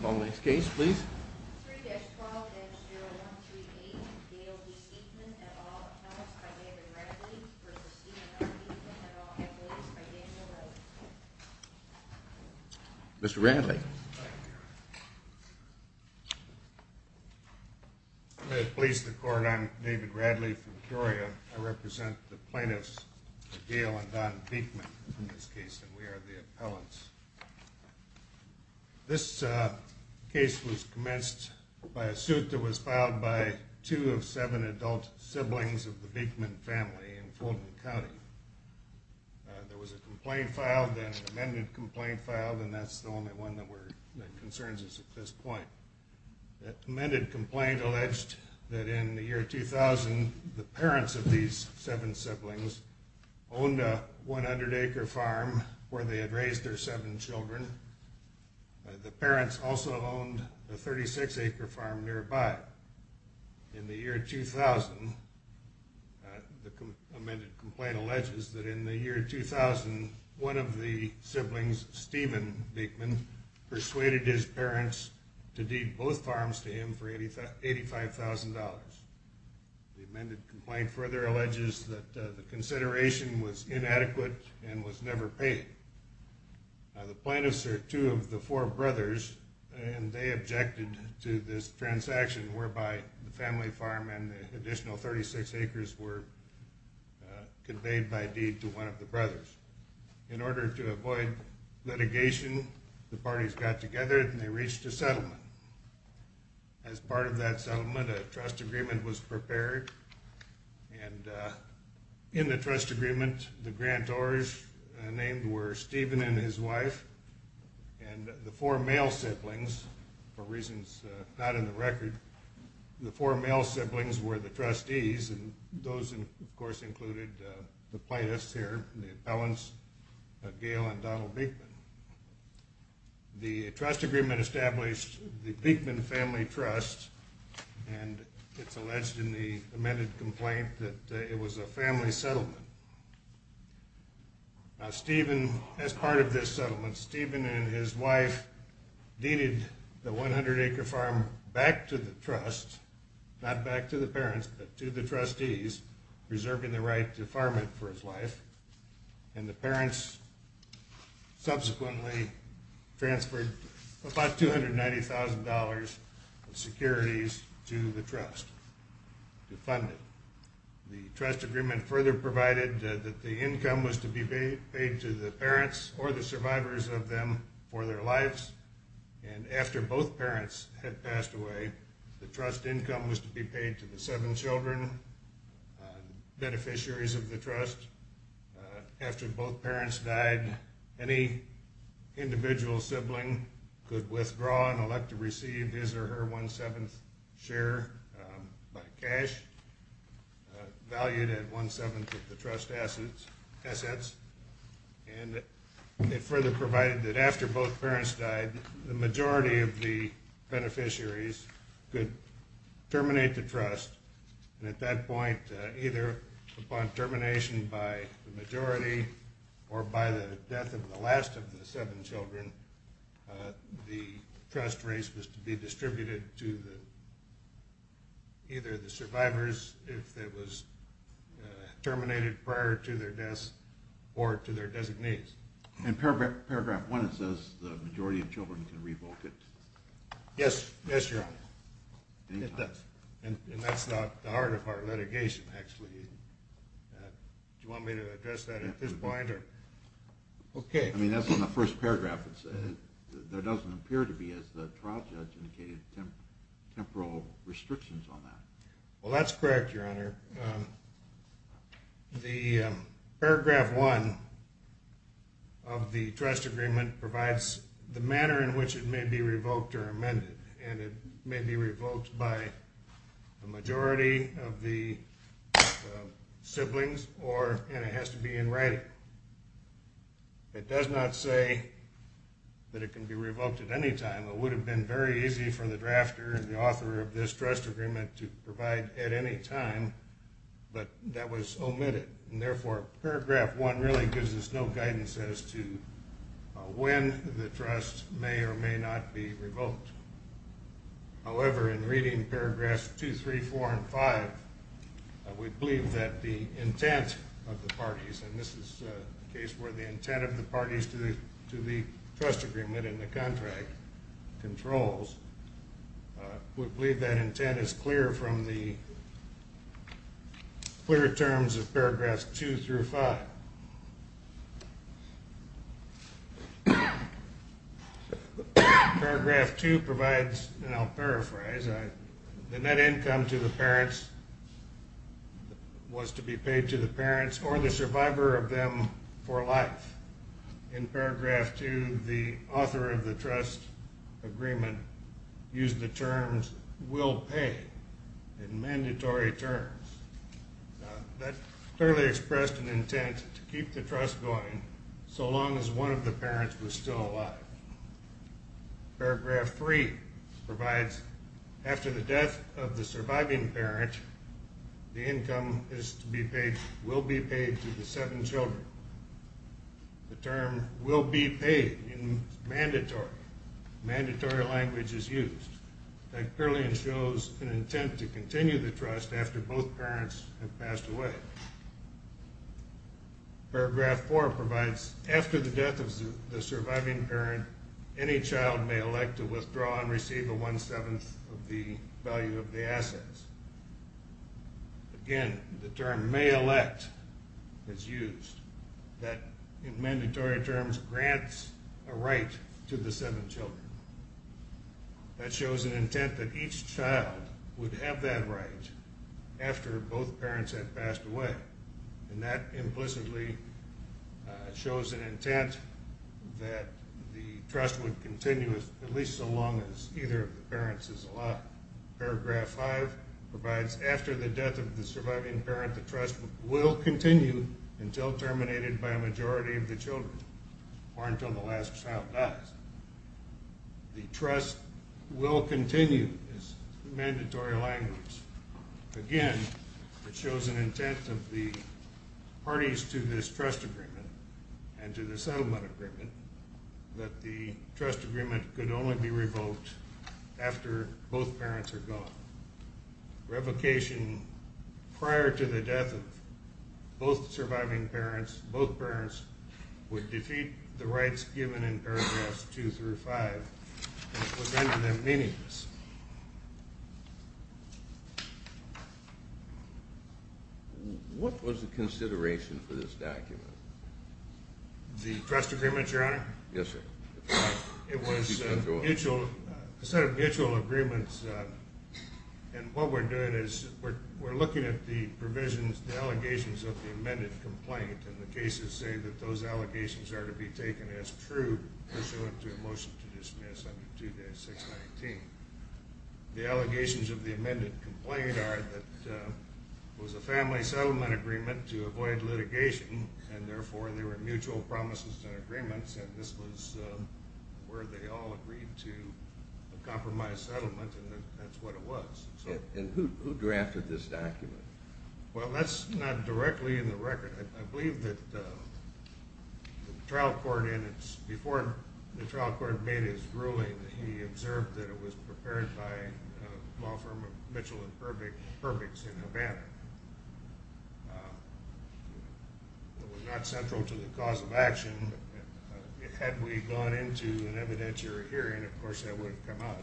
Call the next case, please. 3-12-0138, Gail B. Beekman, et al., appellants by David Radley v. Stephen R. Beekman, et al., appellates by Daniel Wright. Mr. Radley. Thank you, Your Honor. I'm going to police the court. I'm David Radley from Peoria. I represent the plaintiffs, Gail and Don Beekman, in this case, and we are the appellants. This case was commenced by a suit that was filed by two of seven adult siblings of the Beekman family in Fulton County. There was a complaint filed and an amended complaint filed, and that's the only one that concerns us at this point. The amended complaint alleged that in the year 2000, the parents of these seven siblings owned a 100-acre farm where they had raised their seven children. The parents also owned a 36-acre farm nearby. In the year 2000, the amended complaint alleges that in the year 2000, one of the siblings, Stephen Beekman, persuaded his parents to deed both farms to him for $85,000. The amended complaint further alleges that the consideration was inadequate and was never paid. The plaintiffs are two of the four brothers, and they objected to this transaction whereby the family farm and the additional 36 acres were conveyed by deed to one of the brothers. In order to avoid litigation, the parties got together and they reached a settlement. As part of that settlement, a trust agreement was prepared, and in the trust agreement, the grantors named were Stephen and his wife, and the four male siblings, for reasons not in the record, the four male siblings were the trustees, and those, of course, included the plaintiffs here, the appellants, Gail and Donald Beekman. The trust agreement established the Beekman Family Trust, and it's alleged in the amended complaint that it was a family settlement. Now Stephen, as part of this settlement, Stephen and his wife deeded the 100-acre farm back to the trust, not back to the parents, but to the trustees, preserving the right to farm it for his life. And the parents subsequently transferred about $290,000 in securities to the trust to fund it. The trust agreement further provided that the income was to be paid to the parents or the survivors of them for their lives, and after both parents had passed away, the trust income was to be paid to the seven children, beneficiaries of the trust. After both parents died, any individual sibling could withdraw and elect to receive his or her one-seventh share by cash, valued at one-seventh of the trust assets. And it further provided that after both parents died, the majority of the beneficiaries could terminate the trust. And at that point, either upon termination by the majority or by the death of the last of the seven children, the trust race was to be distributed to either the survivors if it was terminated prior to their deaths or to their designees. In paragraph one it says the majority of children can revoke it. Yes, your honor. And that's not the heart of our litigation actually. Do you want me to address that at this point? I mean, that's on the first paragraph. There doesn't appear to be, as the trial judge indicated, temporal restrictions on that. Well, that's correct, your honor. The paragraph one of the trust agreement provides the manner in which it may be revoked or amended. And it may be revoked by the majority of the siblings, and it has to be in writing. It does not say that it can be revoked at any time. It would have been very easy for the drafter and the author of this trust agreement to provide at any time, but that was omitted. Therefore, paragraph one really gives us no guidance as to when the trust may or may not be revoked. However, in reading paragraphs two, three, four, and five, we believe that the intent of the parties, and this is a case where the intent of the parties to the trust agreement and the contract controls, we believe that intent is clear from the clear terms of paragraphs two through five. Paragraph two provides, and I'll paraphrase, the net income to the parents was to be paid to the parents or the survivor of them for life. In paragraph two, the author of the trust agreement used the terms will pay in mandatory terms. That clearly expressed an intent to keep the trust going so long as one of the parents was still alive. Paragraph three provides after the death of the surviving parent, the income is to be paid, will be paid to the seven children. The term will be paid in mandatory. Mandatory language is used. That clearly shows an intent to continue the trust after both parents have passed away. Paragraph four provides after the death of the surviving parent, any child may elect to withdraw and receive a one-seventh of the value of the assets. Again, the term may elect is used. That in mandatory terms grants a right to the seven children. That shows an intent that each child would have that right after both parents have passed away. And that implicitly shows an intent that the trust would continue at least so long as either of the parents is alive. Paragraph five provides after the death of the surviving parent, the trust will continue until terminated by a majority of the children or until the last child dies. The trust will continue is mandatory language. Again, it shows an intent of the parties to this trust agreement and to the settlement agreement that the trust agreement could only be revoked after both parents are gone. Revocation prior to the death of both surviving parents, both parents would defeat the rights given in paragraphs two through five and it would render them meaningless. What was the consideration for this document? The trust agreement, Your Honor? Yes, sir. It was a set of mutual agreements and what we're doing is we're looking at the provisions, the allegations of the amended complaint and the cases say that those allegations are to be taken as true pursuant to a motion to dismiss under 2-619. The allegations of the amended complaint are that it was a family settlement agreement to avoid litigation and therefore they were mutual promises and agreements and this was where they all agreed to a compromised settlement and that's what it was. And who drafted this document? Well, that's not directly in the record. I believe that the trial court in its, before the trial court made its ruling, he observed that it was prepared by a law firm of Mitchell and Purbix in Havana. It was not central to the cause of action. Had we gone into an evidentiary hearing, of course, that would have come out.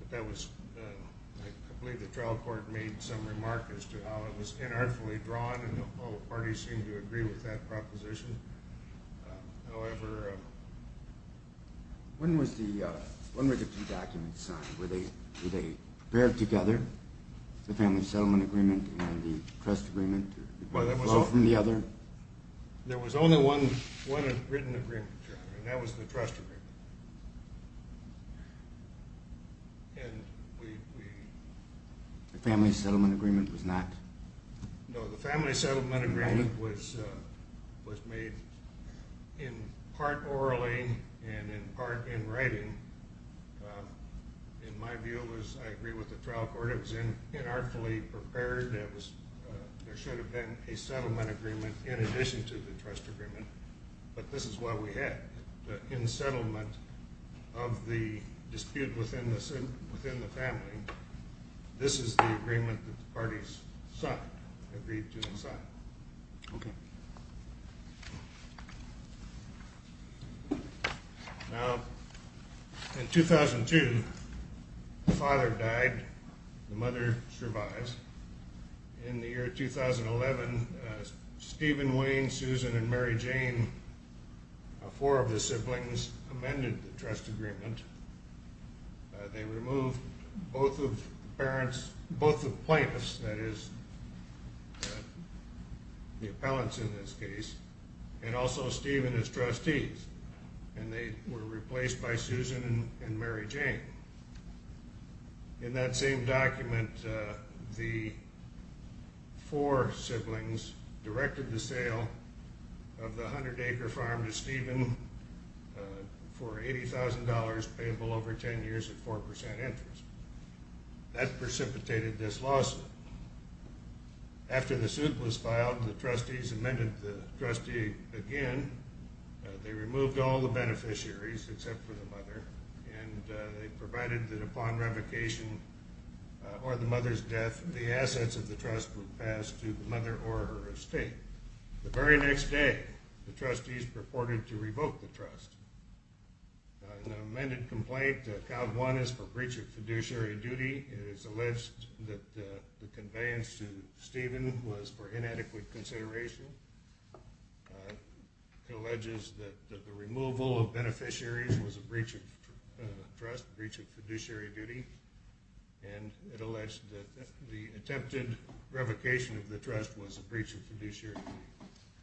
But that was, I believe the trial court made some remarks as to how it was inartfully drawn and all parties seemed to agree with that proposition. However... When was the, when were the two documents signed? Were they paired together, the family settlement agreement and the trust agreement? Well, that was all... Did they flow from the other? There was only one written agreement, Your Honor, and that was the trust agreement. And we... The family settlement agreement was not... No, the family settlement agreement was made in part orally and in part in writing. In my view, I agree with the trial court. It was inartfully prepared. There should have been a settlement agreement in addition to the trust agreement, but this is what we had. In the settlement of the dispute within the family, this is the agreement that the parties signed, agreed to and signed. Okay. Now, in 2002, the father died. The mother survived. In the year 2011, Stephen, Wayne, Susan, and Mary Jane, four of the siblings, amended the trust agreement. They removed both of the parents, both the plaintiffs, that is, the appellants in this case, and also Stephen, his trustees, and they were replaced by Susan and Mary Jane. In that same document, the four siblings directed the sale of the 100-acre farm to Stephen for $80,000 payable over 10 years at 4% interest. That precipitated this lawsuit. After the suit was filed, the trustees amended the trustee again. They removed all the beneficiaries except for the mother, and they provided that upon revocation or the mother's death, the assets of the trust were passed to the mother or her estate. The very next day, the trustees purported to revoke the trust. In the amended complaint, Act 1 is for breach of fiduciary duty. It is alleged that the conveyance to Stephen was for inadequate consideration. It alleges that the removal of beneficiaries was a breach of trust, a breach of fiduciary duty, and it alleged that the attempted revocation of the trust was a breach of fiduciary duty.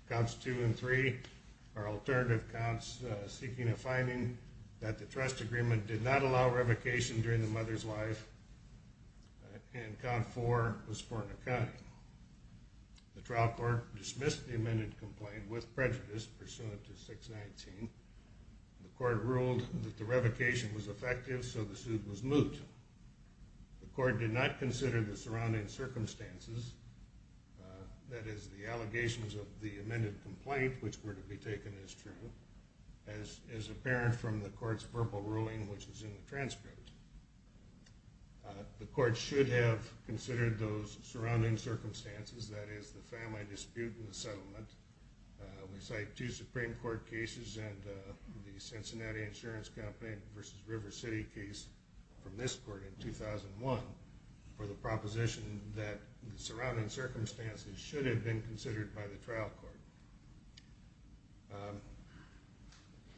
Counts 2 and 3 are alternative counts seeking a finding that the trust agreement did not allow revocation during the mother's life, and count 4 was for an accounting. The trial court dismissed the amended complaint with prejudice pursuant to 619. The court ruled that the revocation was effective, so the suit was moved. The court did not consider the surrounding circumstances, that is, the allegations of the amended complaint, which were to be taken as true, as apparent from the court's verbal ruling, which is in the transcript. The court should have considered those surrounding circumstances, that is, the family dispute in the settlement. We cite two Supreme Court cases and the Cincinnati Insurance Campaign v. River City case from this court in 2001 for the proposition that the surrounding circumstances should have been considered by the trial court.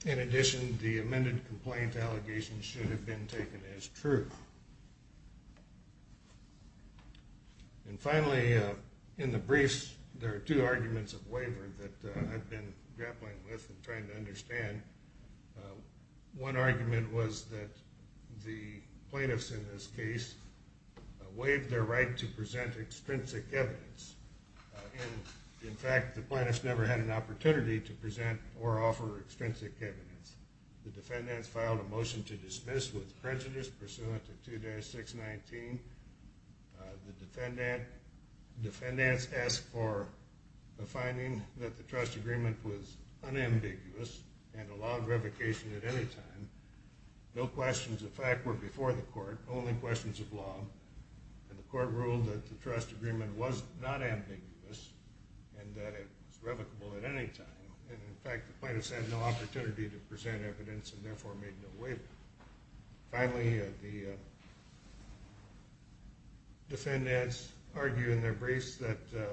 In addition, the amended complaint allegations should have been taken as true. And finally, in the briefs, there are two arguments of waiver that I've been grappling with and trying to understand. One argument was that the plaintiffs in this case waived their right to present extrinsic evidence. In fact, the plaintiffs never had an opportunity to present or offer extrinsic evidence. The defendants filed a motion to dismiss with prejudice pursuant to 2-619. The defendants asked for a finding that the trust agreement was unambiguous and allowed revocation at any time. No questions of fact were before the court, only questions of law. The court ruled that the trust agreement was not ambiguous and that it was revocable at any time. In fact, the plaintiffs had no opportunity to present evidence and therefore made no waiver. Finally, the defendants argue in their briefs that the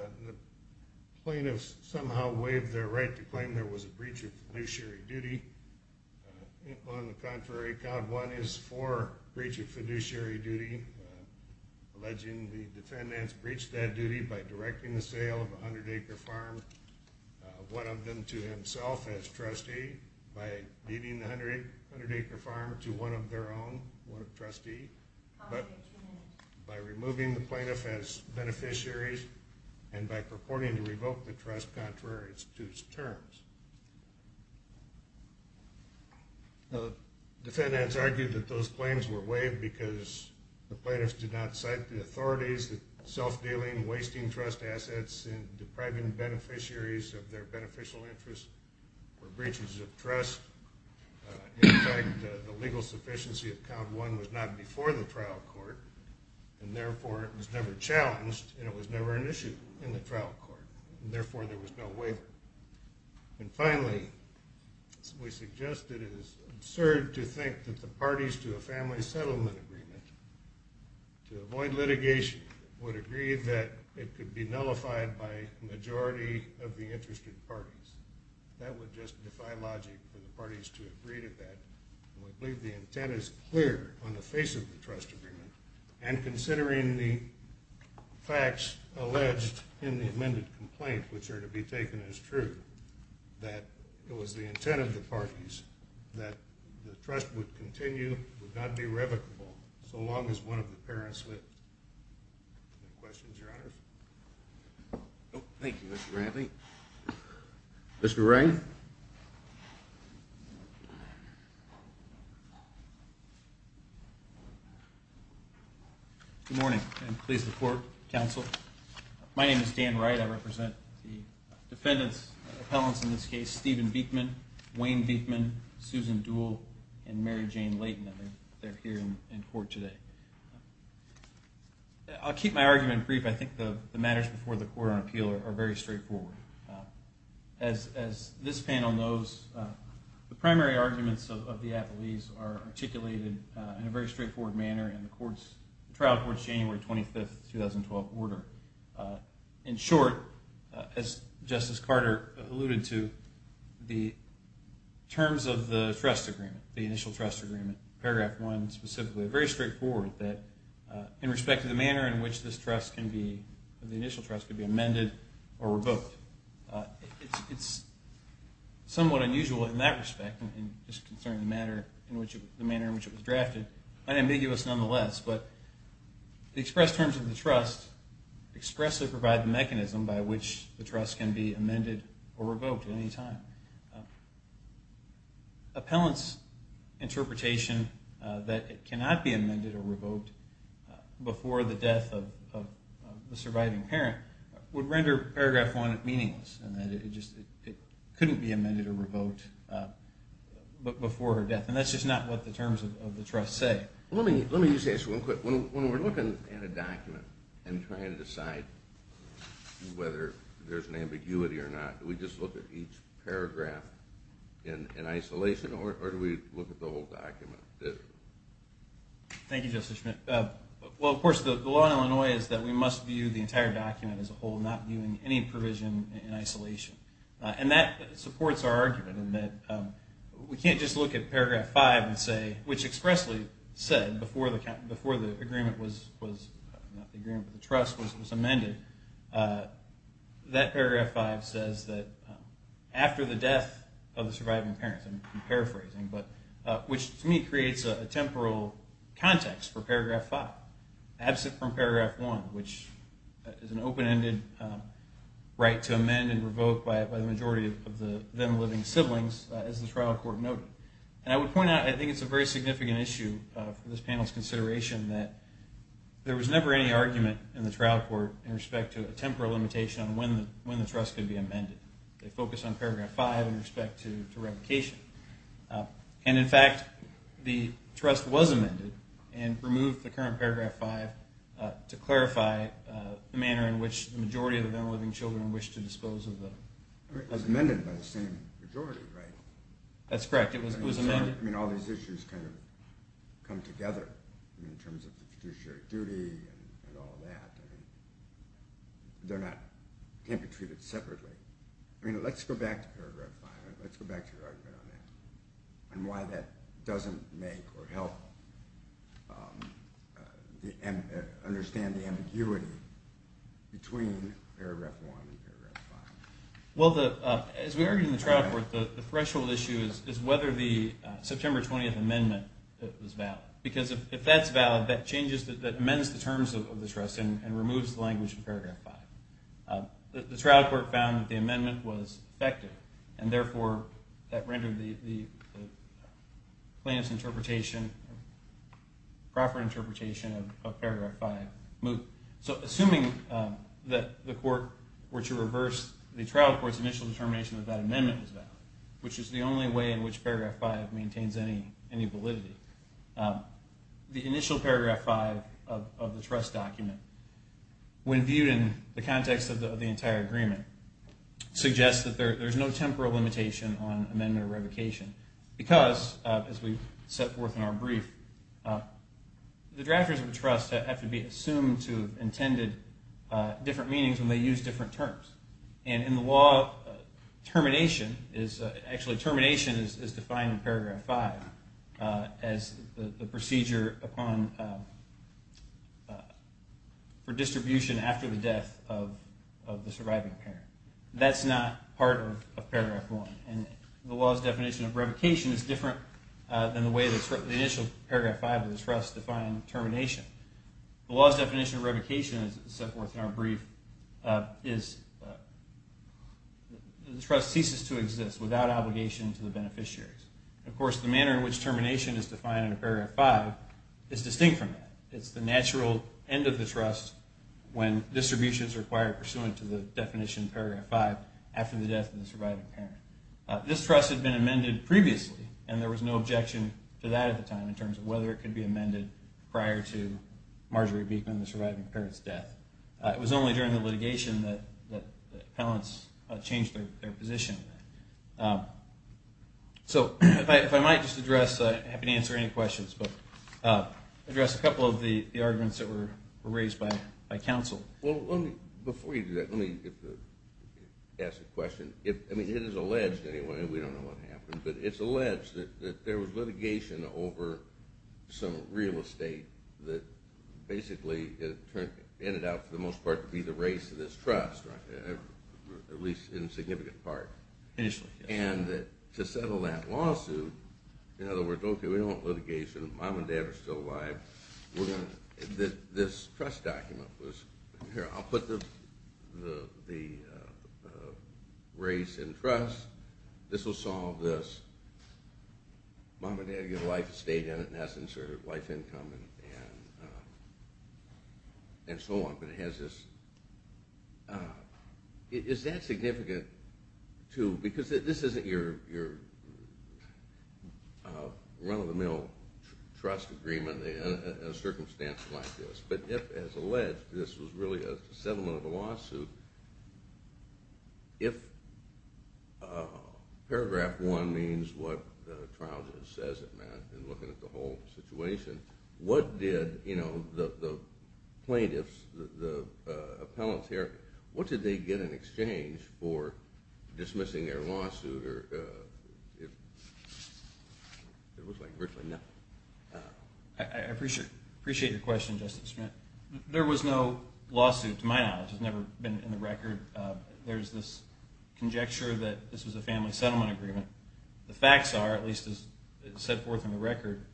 plaintiffs somehow waived their right to claim there was a breach of fiduciary duty. On the contrary, Code 1 is for breach of fiduciary duty. Alleging the defendants breached that duty by directing the sale of a 100-acre farm, one of them to himself as trustee, by leading the 100-acre farm to one of their own, one of the trustees, by removing the plaintiff as beneficiaries, and by purporting to revoke the trust contrary to its terms. The defendants argued that those claims were waived because the plaintiffs did not cite the authorities that self-dealing, wasting trust assets, and depriving beneficiaries of their beneficial interests were breaches of trust. In fact, the legal sufficiency of Code 1 was not before the trial court and therefore it was never challenged and it was never an issue in the trial court and therefore there was no waiver. And finally, we suggest that it is absurd to think that the parties to a family settlement agreement to avoid litigation would agree that it could be nullified by a majority of the interested parties. That would just defy logic for the parties to agree to that. And we believe the intent is clear on the face of the trust agreement and considering the facts alleged in the amended complaint, which are to be taken as true, that it was the intent of the parties that the trust would continue, would not be revocable, so long as one of the parents lived. Any questions, Your Honors? Thank you, Mr. Bradley. Mr. Wray? Good morning and please report, counsel. My name is Dan Wright. I represent the defendants, the appellants in this case, Stephen Beekman, Wayne Beekman, Susan Duhl, and Mary Jane Layton. They're here in court today. I'll keep my argument brief. I think the matters before the court on appeal are very straightforward. As this panel knows, the primary arguments of the appellees are articulated in a very straightforward manner in the trial court's January 25, 2012, order. In short, as Justice Carter alluded to, the terms of the trust agreement, the initial trust agreement, paragraph one specifically, are very straightforward in respect to the manner in which this trust can be, the initial trust can be amended or revoked. It's somewhat unusual in that respect, just concerning the manner in which it was drafted, unambiguous nonetheless, but the expressed terms of the trust expressly provide the mechanism by which the trust can be amended or revoked at any time. Appellants' interpretation that it cannot be amended or revoked before the death of the surviving parent would render paragraph one meaningless in that it couldn't be amended or revoked before her death. And that's just not what the terms of the trust say. Let me use this real quick. When we're looking at a document and trying to decide whether there's an ambiguity or not, do we just look at each paragraph in isolation or do we look at the whole document? Thank you, Justice Schmidt. Well, of course, the law in Illinois is that we must view the entire document as a whole, not viewing any provision in isolation. And that supports our argument in that we can't just look at paragraph five and say, which expressly said before the agreement was, not the agreement, but the trust was amended, that paragraph five says that after the death of the surviving parent, I'm paraphrasing, which to me creates a temporal context for paragraph five, absent from paragraph one, which is an open-ended right to amend and revoke by the majority of the then-living siblings, as the trial court noted. And I would point out, I think it's a very significant issue for this panel's consideration, that there was never any argument in the trial court in respect to a temporal limitation on when the trust could be amended. They focused on paragraph five in respect to revocation. And, in fact, the trust was amended and removed the current paragraph five to clarify the manner in which the majority of the then-living children wished to dispose of them. It was amended by the same majority, right? That's correct. It was amended. I mean, all these issues kind of come together in terms of the fiduciary duty and all that. I mean, they're not – can't be treated separately. I mean, let's go back to paragraph five. Let's go back to your argument on that and why that doesn't make or help understand the ambiguity between paragraph one and paragraph five. Well, as we argued in the trial court, the threshold issue is whether the September 20th amendment was valid. Because if that's valid, that changes – that amends the terms of the trust and removes the language in paragraph five. The trial court found that the amendment was effective, and therefore that rendered the plaintiff's interpretation – proper interpretation of paragraph five moot. So assuming that the court were to reverse the trial court's initial determination that that amendment was valid, which is the only way in which paragraph five maintains any validity, the initial paragraph five of the trust document, when viewed in the context of the entire agreement, suggests that there's no temporal limitation on amendment or revocation. Because, as we set forth in our brief, the drafters of a trust have to be assumed to have intended different meanings when they use different terms. And in the law, termination is – actually, termination is defined in paragraph five as the procedure upon – for distribution after the death of the surviving parent. That's not part of paragraph one. And the law's definition of revocation is different than the way the initial paragraph five of the trust defined termination. The law's definition of revocation, as set forth in our brief, is the trust ceases to exist without obligation to the beneficiaries. Of course, the manner in which termination is defined in paragraph five is distinct from that. It's the natural end of the trust when distribution is required pursuant to the definition in paragraph five after the death of the surviving parent. This trust had been amended previously, and there was no objection to that at the time in terms of whether it could be amended prior to Marjorie Beekman, the surviving parent's death. It was only during the litigation that the appellants changed their position. So if I might just address – I'm happy to answer any questions, but address a couple of the arguments that were raised by counsel. Well, let me – before you do that, let me ask a question. I mean, it is alleged anyway, and we don't know what happened, but it's alleged that there was litigation over some real estate that basically ended up, for the most part, to be the race of this trust, at least in a significant part. Initially, yes. And to settle that lawsuit – in other words, okay, we don't want litigation, mom and dad are still alive, we're going to – this trust document was – here, I'll put the race and trust, this will solve this, mom and dad get a life estate in it, in essence, or life income and so on. But it has this – is that significant, too? Because this isn't your run-of-the-mill trust agreement in a circumstance like this. But if, as alleged, this was really a settlement of a lawsuit, if paragraph one means what the trial just says it meant, and looking at the whole situation, what did the plaintiffs, the appellants here, what did they get in exchange for dismissing their lawsuit? It looks like virtually nothing. I appreciate your question, Justice Schmidt. There was no lawsuit, to my knowledge. It's never been in the record. There's this conjecture that this was a family settlement agreement. The facts are, at least as set forth in the record,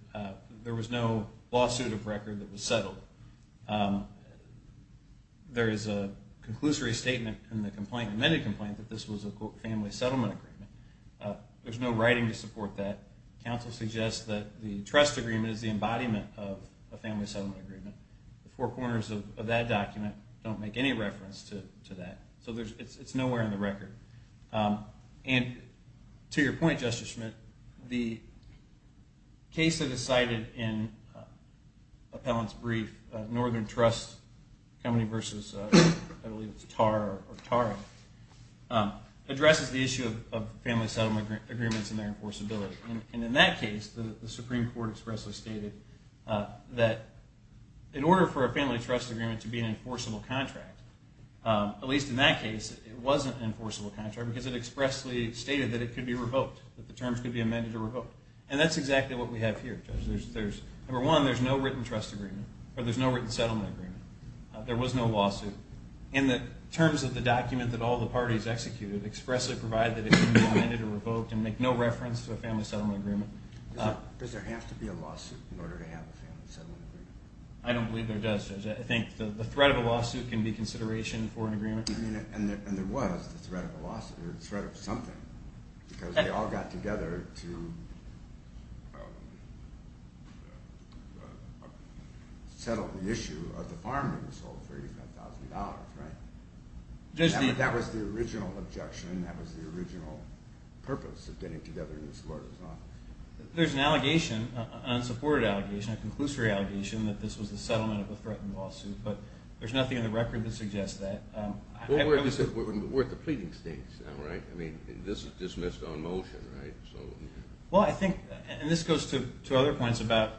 there was no lawsuit of record that was settled. There is a conclusory statement in the complaint, the amended complaint, that this was a family settlement agreement. There's no writing to support that. Counsel suggests that the trust agreement is the embodiment of a family settlement agreement. The four corners of that document don't make any reference to that. So it's nowhere in the record. And to your point, Justice Schmidt, the case that is cited in Appellant's brief, Northern Trust Company versus I believe it's TAR or TARA, addresses the issue of family settlement agreements and their enforceability. And in that case, the Supreme Court expressly stated that in order for a family trust agreement to be an enforceable contract, at least in that case, it wasn't an enforceable contract because it expressly stated that it could be revoked, that the terms could be amended or revoked. And that's exactly what we have here, Judge. Number one, there's no written settlement agreement. There was no lawsuit. And the terms of the document that all the parties executed expressly provided that it could be amended or revoked and make no reference to a family settlement agreement. Does there have to be a lawsuit in order to have a family settlement agreement? I don't believe there does, Judge. I think the threat of a lawsuit can be consideration for an agreement. And there was the threat of a lawsuit or the threat of something because they all got together to settle the issue of the farm that was sold for $85,000, right? That was the original objection. That was the original purpose of getting together in this court. There's an allegation, an unsupported allegation, a conclusory allegation, that this was the settlement of a threatened lawsuit. But there's nothing in the record that suggests that. We're at the pleading stage now, right? I mean, this is dismissed on motion, right? Well, I think, and this goes to other points about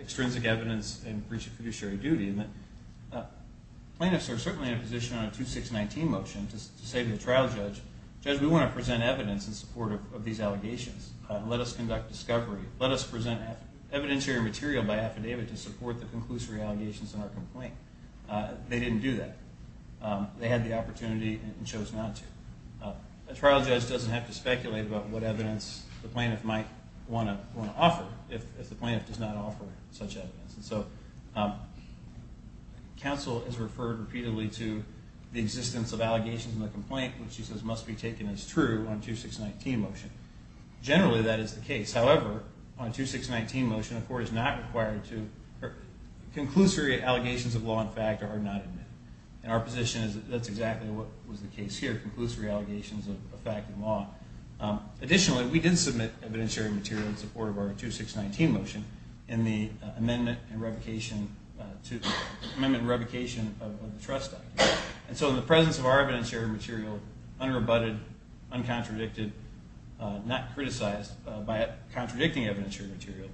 extrinsic evidence and fiduciary duty. Plaintiffs are certainly in a position on a 2619 motion to say to the trial judge, Judge, we want to present evidence in support of these allegations. Let us conduct discovery. Let us present evidentiary material by affidavit to support the conclusory allegations in our complaint. They didn't do that. They had the opportunity and chose not to. A trial judge doesn't have to speculate about what evidence the plaintiff might want to offer if the plaintiff does not offer such evidence. And so counsel is referred repeatedly to the existence of allegations in the complaint, which she says must be taken as true on a 2619 motion. Generally, that is the case. However, on a 2619 motion, a court is not required to, conclusory allegations of law and fact are not admitted. And our position is that that's exactly what was the case here, conclusory allegations of fact and law. Additionally, we did submit evidentiary material in support of our 2619 motion in the amendment and revocation of the trust document. And so in the presence of our evidentiary material, unrebutted, uncontradicted, not criticized by contradicting evidentiary material,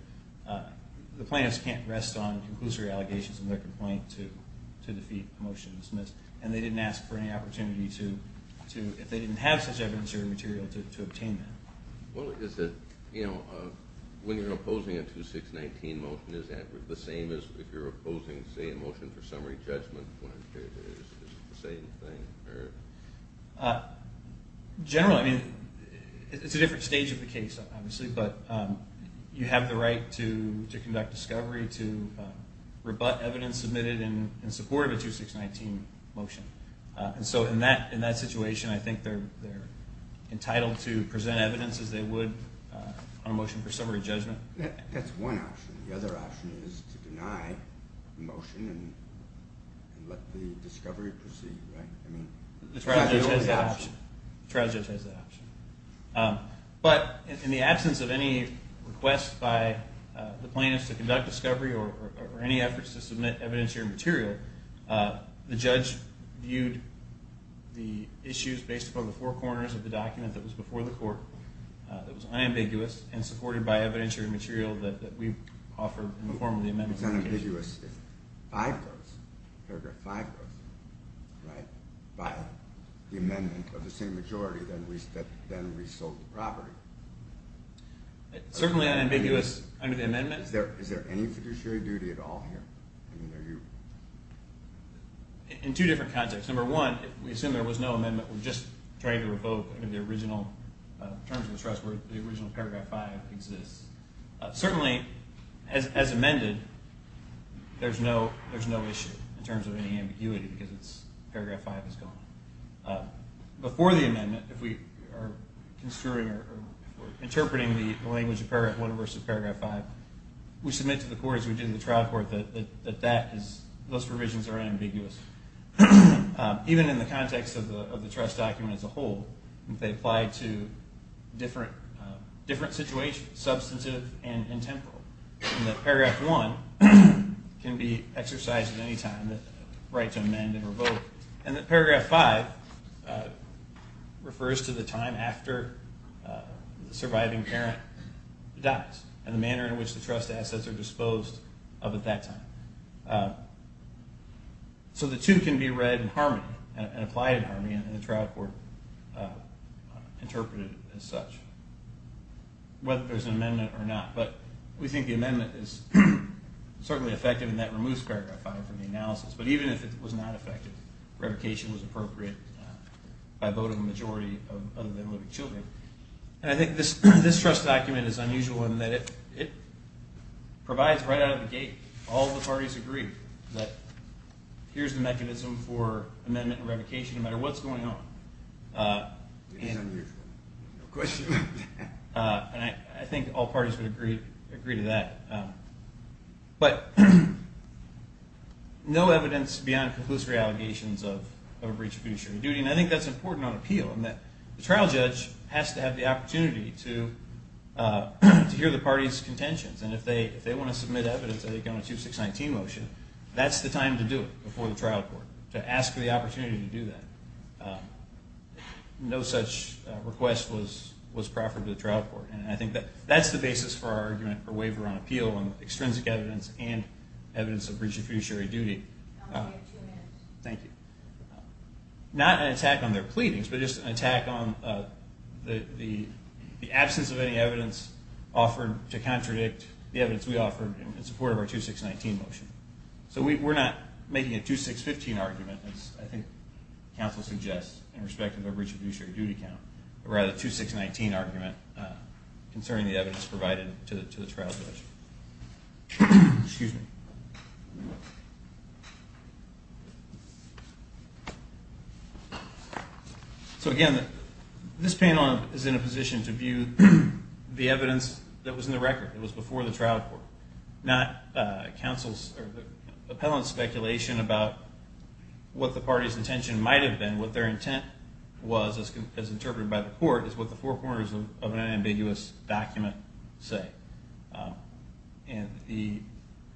the plaintiffs can't rest on conclusory allegations in their complaint to defeat the motion dismissed. And they didn't ask for any opportunity to, if they didn't have such evidentiary material, to obtain that. Well, is it, you know, when you're opposing a 2619 motion, is that the same as if you're opposing, say, a motion for summary judgment? Is it the same thing? Generally, I mean, it's a different stage of the case, obviously, but you have the right to conduct discovery, to rebut evidence submitted in support of a 2619 motion. And so in that situation, I think they're entitled to present evidence, as they would on a motion for summary judgment. That's one option. The other option is to deny the motion and let the discovery proceed, right? The trial judge has that option. But in the absence of any request by the plaintiffs to conduct discovery or any efforts to submit evidentiary material, the judge viewed the issues based upon the four corners of the document that was before the court that was unambiguous and supported by evidentiary material that we offered in the form of the amendment. It's unambiguous if paragraph 5 was, right, by the amendment of the same majority, then we sold the property. Certainly unambiguous under the amendment. Is there any fiduciary duty at all here? In two different contexts. Number one, we assume there was no amendment. We're just trying to revoke the original terms of the trust where the original paragraph 5 exists. Certainly, as amended, there's no issue in terms of any ambiguity because paragraph 5 is gone. Before the amendment, if we are construing or interpreting the language of paragraph 1 versus paragraph 5, we submit to the court, as we did in the trial court, that those provisions are unambiguous. Even in the context of the trust document as a whole, they apply to different situations, substantive and temporal. And that paragraph 1 can be exercised at any time, the right to amend and revoke. And that paragraph 5 refers to the time after the surviving parent dies and the manner in which the trust assets are disposed of at that time. So the two can be read in harmony and applied in harmony, and the trial court interpreted it as such, whether there's an amendment or not. But we think the amendment is certainly effective in that it removes paragraph 5 from the analysis. But even if it was not effective, revocation was appropriate by a vote of a majority other than living children. And I think this trust document is unusual in that it provides right out of the gate all the parties agree that here's the mechanism for amendment and revocation no matter what's going on. It is unusual. No question. And I think all parties would agree to that. But no evidence beyond conclusive allegations of a breach of judiciary duty, and I think that's important on appeal, in that the trial judge has to have the opportunity to hear the party's contentions. And if they want to submit evidence, I think on a 2619 motion, that's the time to do it before the trial court, to ask for the opportunity to do that. No such request was proffered to the trial court. And I think that's the basis for our argument for waiver on appeal on extrinsic evidence and evidence of breach of judiciary duty. Not an attack on their pleadings, but just an attack on the absence of any evidence offered to contradict the evidence we offered in support of our 2619 motion. So we're not making a 2615 argument, as I think counsel suggests, in respect of a breach of judiciary duty count, but rather a 2619 argument concerning the evidence provided to the trial judge. Excuse me. So again, this panel is in a position to view the evidence that was in the record. It was before the trial court. Not appellant speculation about what the party's intention might have been. What their intent was, as interpreted by the court, is what the four corners of an ambiguous document say. And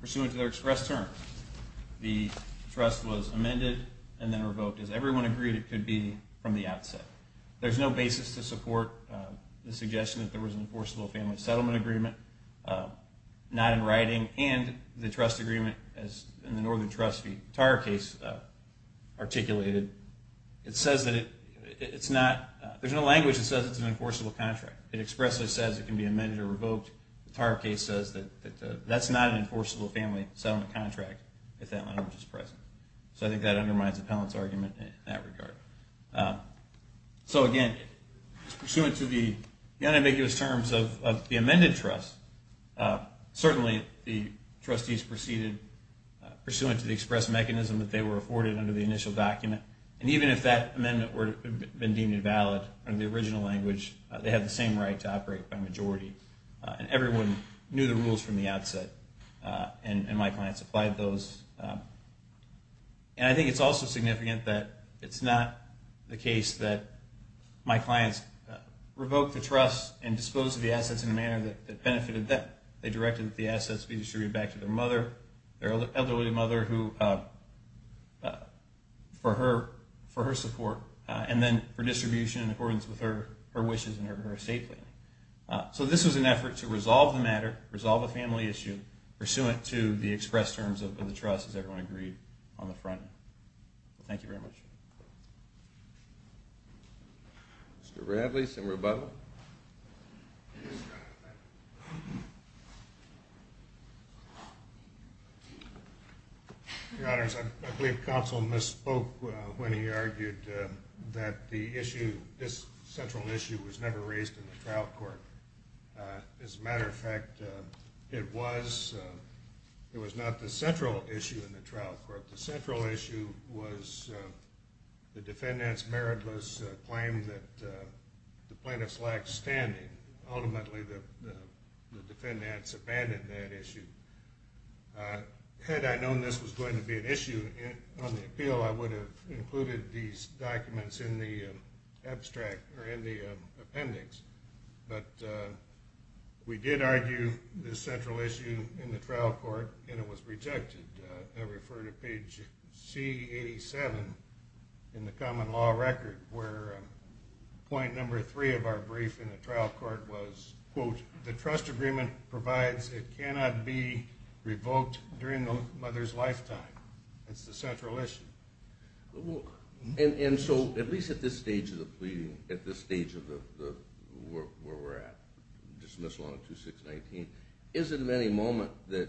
pursuant to their expressed terms, the trust was amended and then revoked. As everyone agreed, it could be from the outset. There's no basis to support the suggestion that there was an enforceable family settlement agreement. Not in writing, and the trust agreement, as in the Northern Trust v. Tarr case articulated, it says that it's not – there's no language that says it's an enforceable contract. It expressly says it can be amended or revoked. The Tarr case says that that's not an enforceable family settlement contract if that language is present. So I think that undermines the appellant's argument in that regard. So again, pursuant to the unambiguous terms of the amended trust, certainly the trustees proceeded pursuant to the expressed mechanism that they were afforded under the initial document. And even if that amendment had been deemed invalid under the original language, they had the same right to operate by majority. And everyone knew the rules from the outset. And my clients applied those. And I think it's also significant that it's not the case that my clients revoked the trust and disposed of the assets in a manner that benefited them. They directed that the assets be distributed back to their mother, their elderly mother, for her support, and then for distribution in accordance with her wishes and her estate planning. So this was an effort to resolve the matter, resolve a family issue, pursuant to the expressed terms of the trust, as everyone agreed on the front end. Thank you very much. Mr. Bradley, some rebuttal? Your Honors, I believe Counsel misspoke when he argued that the issue, this central issue was never raised in the trial court. As a matter of fact, it was not the central issue in the trial court. The central issue was the defendant's meritless claim that the plaintiffs lacked standing. Ultimately, the defendants abandoned that issue. Had I known this was going to be an issue on the appeal, I would have included these documents in the appendix. But we did argue this central issue in the trial court, and it was rejected. I refer to page C87 in the common law record, where point number three of our brief in the trial court was, quote, the trust agreement provides it cannot be revoked during the mother's lifetime. That's the central issue. And so at least at this stage of the pleading, at this stage of where we're at, dismissal on 2619, is it of any moment that,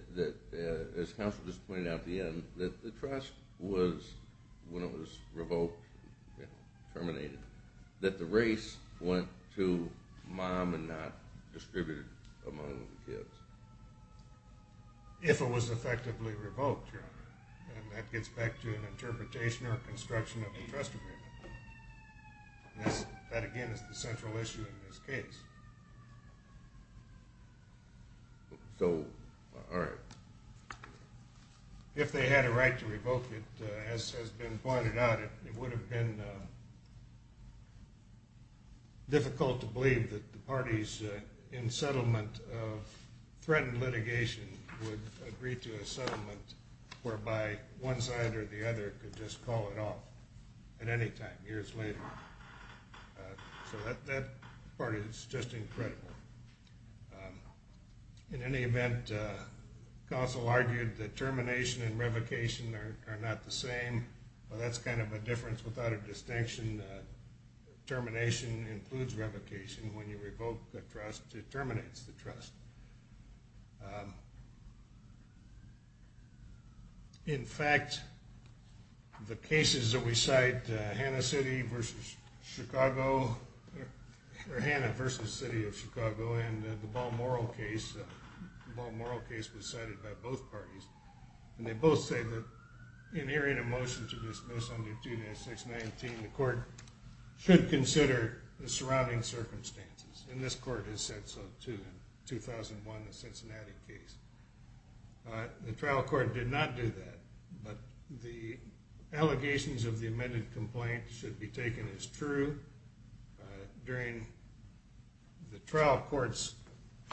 as Counsel just pointed out at the end, that the trust was, when it was revoked, terminated, that the race went to mom and not distributed among the kids? If it was effectively revoked, Your Honor. And that gets back to an interpretation or construction of the trust agreement. That again is the central issue in this case. So, all right. If they had a right to revoke it, as has been pointed out, it would have been difficult to believe that the parties in settlement of threatened litigation would agree to a settlement whereby one side or the other could just call it off at any time years later. So that part is just incredible. In any event, Counsel argued that termination and revocation are not the same. Well, that's kind of a difference without a distinction. Termination includes revocation. When you revoke the trust, it terminates the trust. In fact, the cases that we cite, Hanna City v. Chicago, or Hanna v. City of Chicago, and the Balmoral case, the Balmoral case was cited by both parties, and they both say that in hearing a motion to dismiss under 2-619, the court should consider the surrounding circumstances. And this court has said so, too, in 2001, the Cincinnati case. The trial court did not do that, but the allegations of the amended complaint should be taken as true. During the trial court's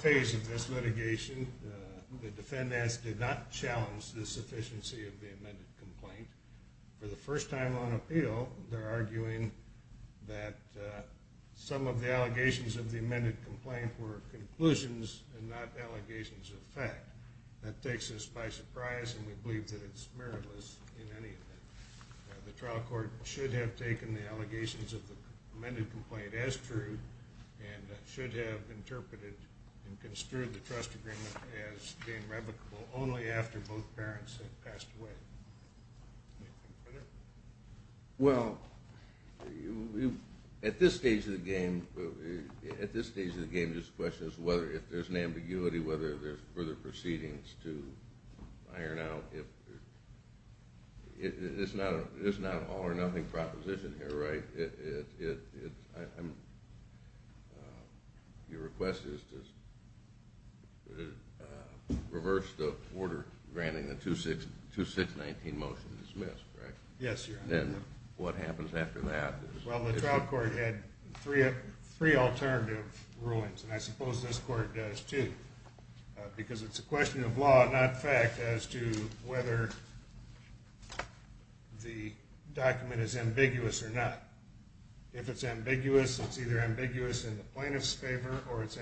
phase of this litigation, the defendants did not challenge the sufficiency of the amended complaint. For the first time on appeal, they're arguing that some of the allegations of the amended complaint were conclusions and not allegations of fact. That takes us by surprise, and we believe that it's meritless in any event. The trial court should have taken the allegations of the amended complaint as true and should have interpreted and construed the trust agreement as being revocable only after both parents had passed away. Well, at this stage of the game, the question is whether, if there's an ambiguity, whether there's further proceedings to iron out. It's not an all-or-nothing proposition here, right? Your request is to reverse the order granting the 2-6-19 motion to dismiss, correct? Yes, Your Honor. Then what happens after that? Well, the trial court had three alternative rulings, and I suppose this court does, too, because it's a question of law, not fact, as to whether the document is ambiguous or not. If it's ambiguous, it's either ambiguous in the plaintiff's favor or it's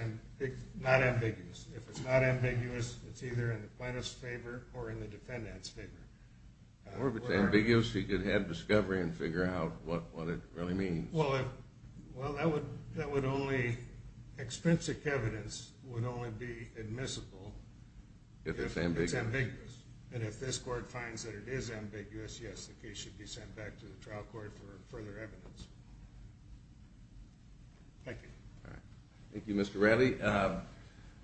not ambiguous. If it's not ambiguous, it's either in the plaintiff's favor or in the defendant's favor. Or if it's ambiguous, you could have discovery and figure out what it really means. Well, that would onlyóexpensive evidence would only be admissible if it's ambiguous. And if this court finds that it is ambiguous, yes, the case should be sent back to the trial court for further evidence. Thank you. Thank you, Mr. Ratley.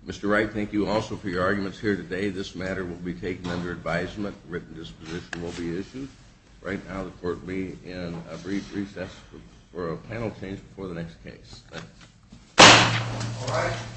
Mr. Wright, thank you also for your arguments here today. This matter will be taken under advisement. A written disposition will be issued. Right now the court will be in a brief recess for a panel change before the next case. Thank you. All right.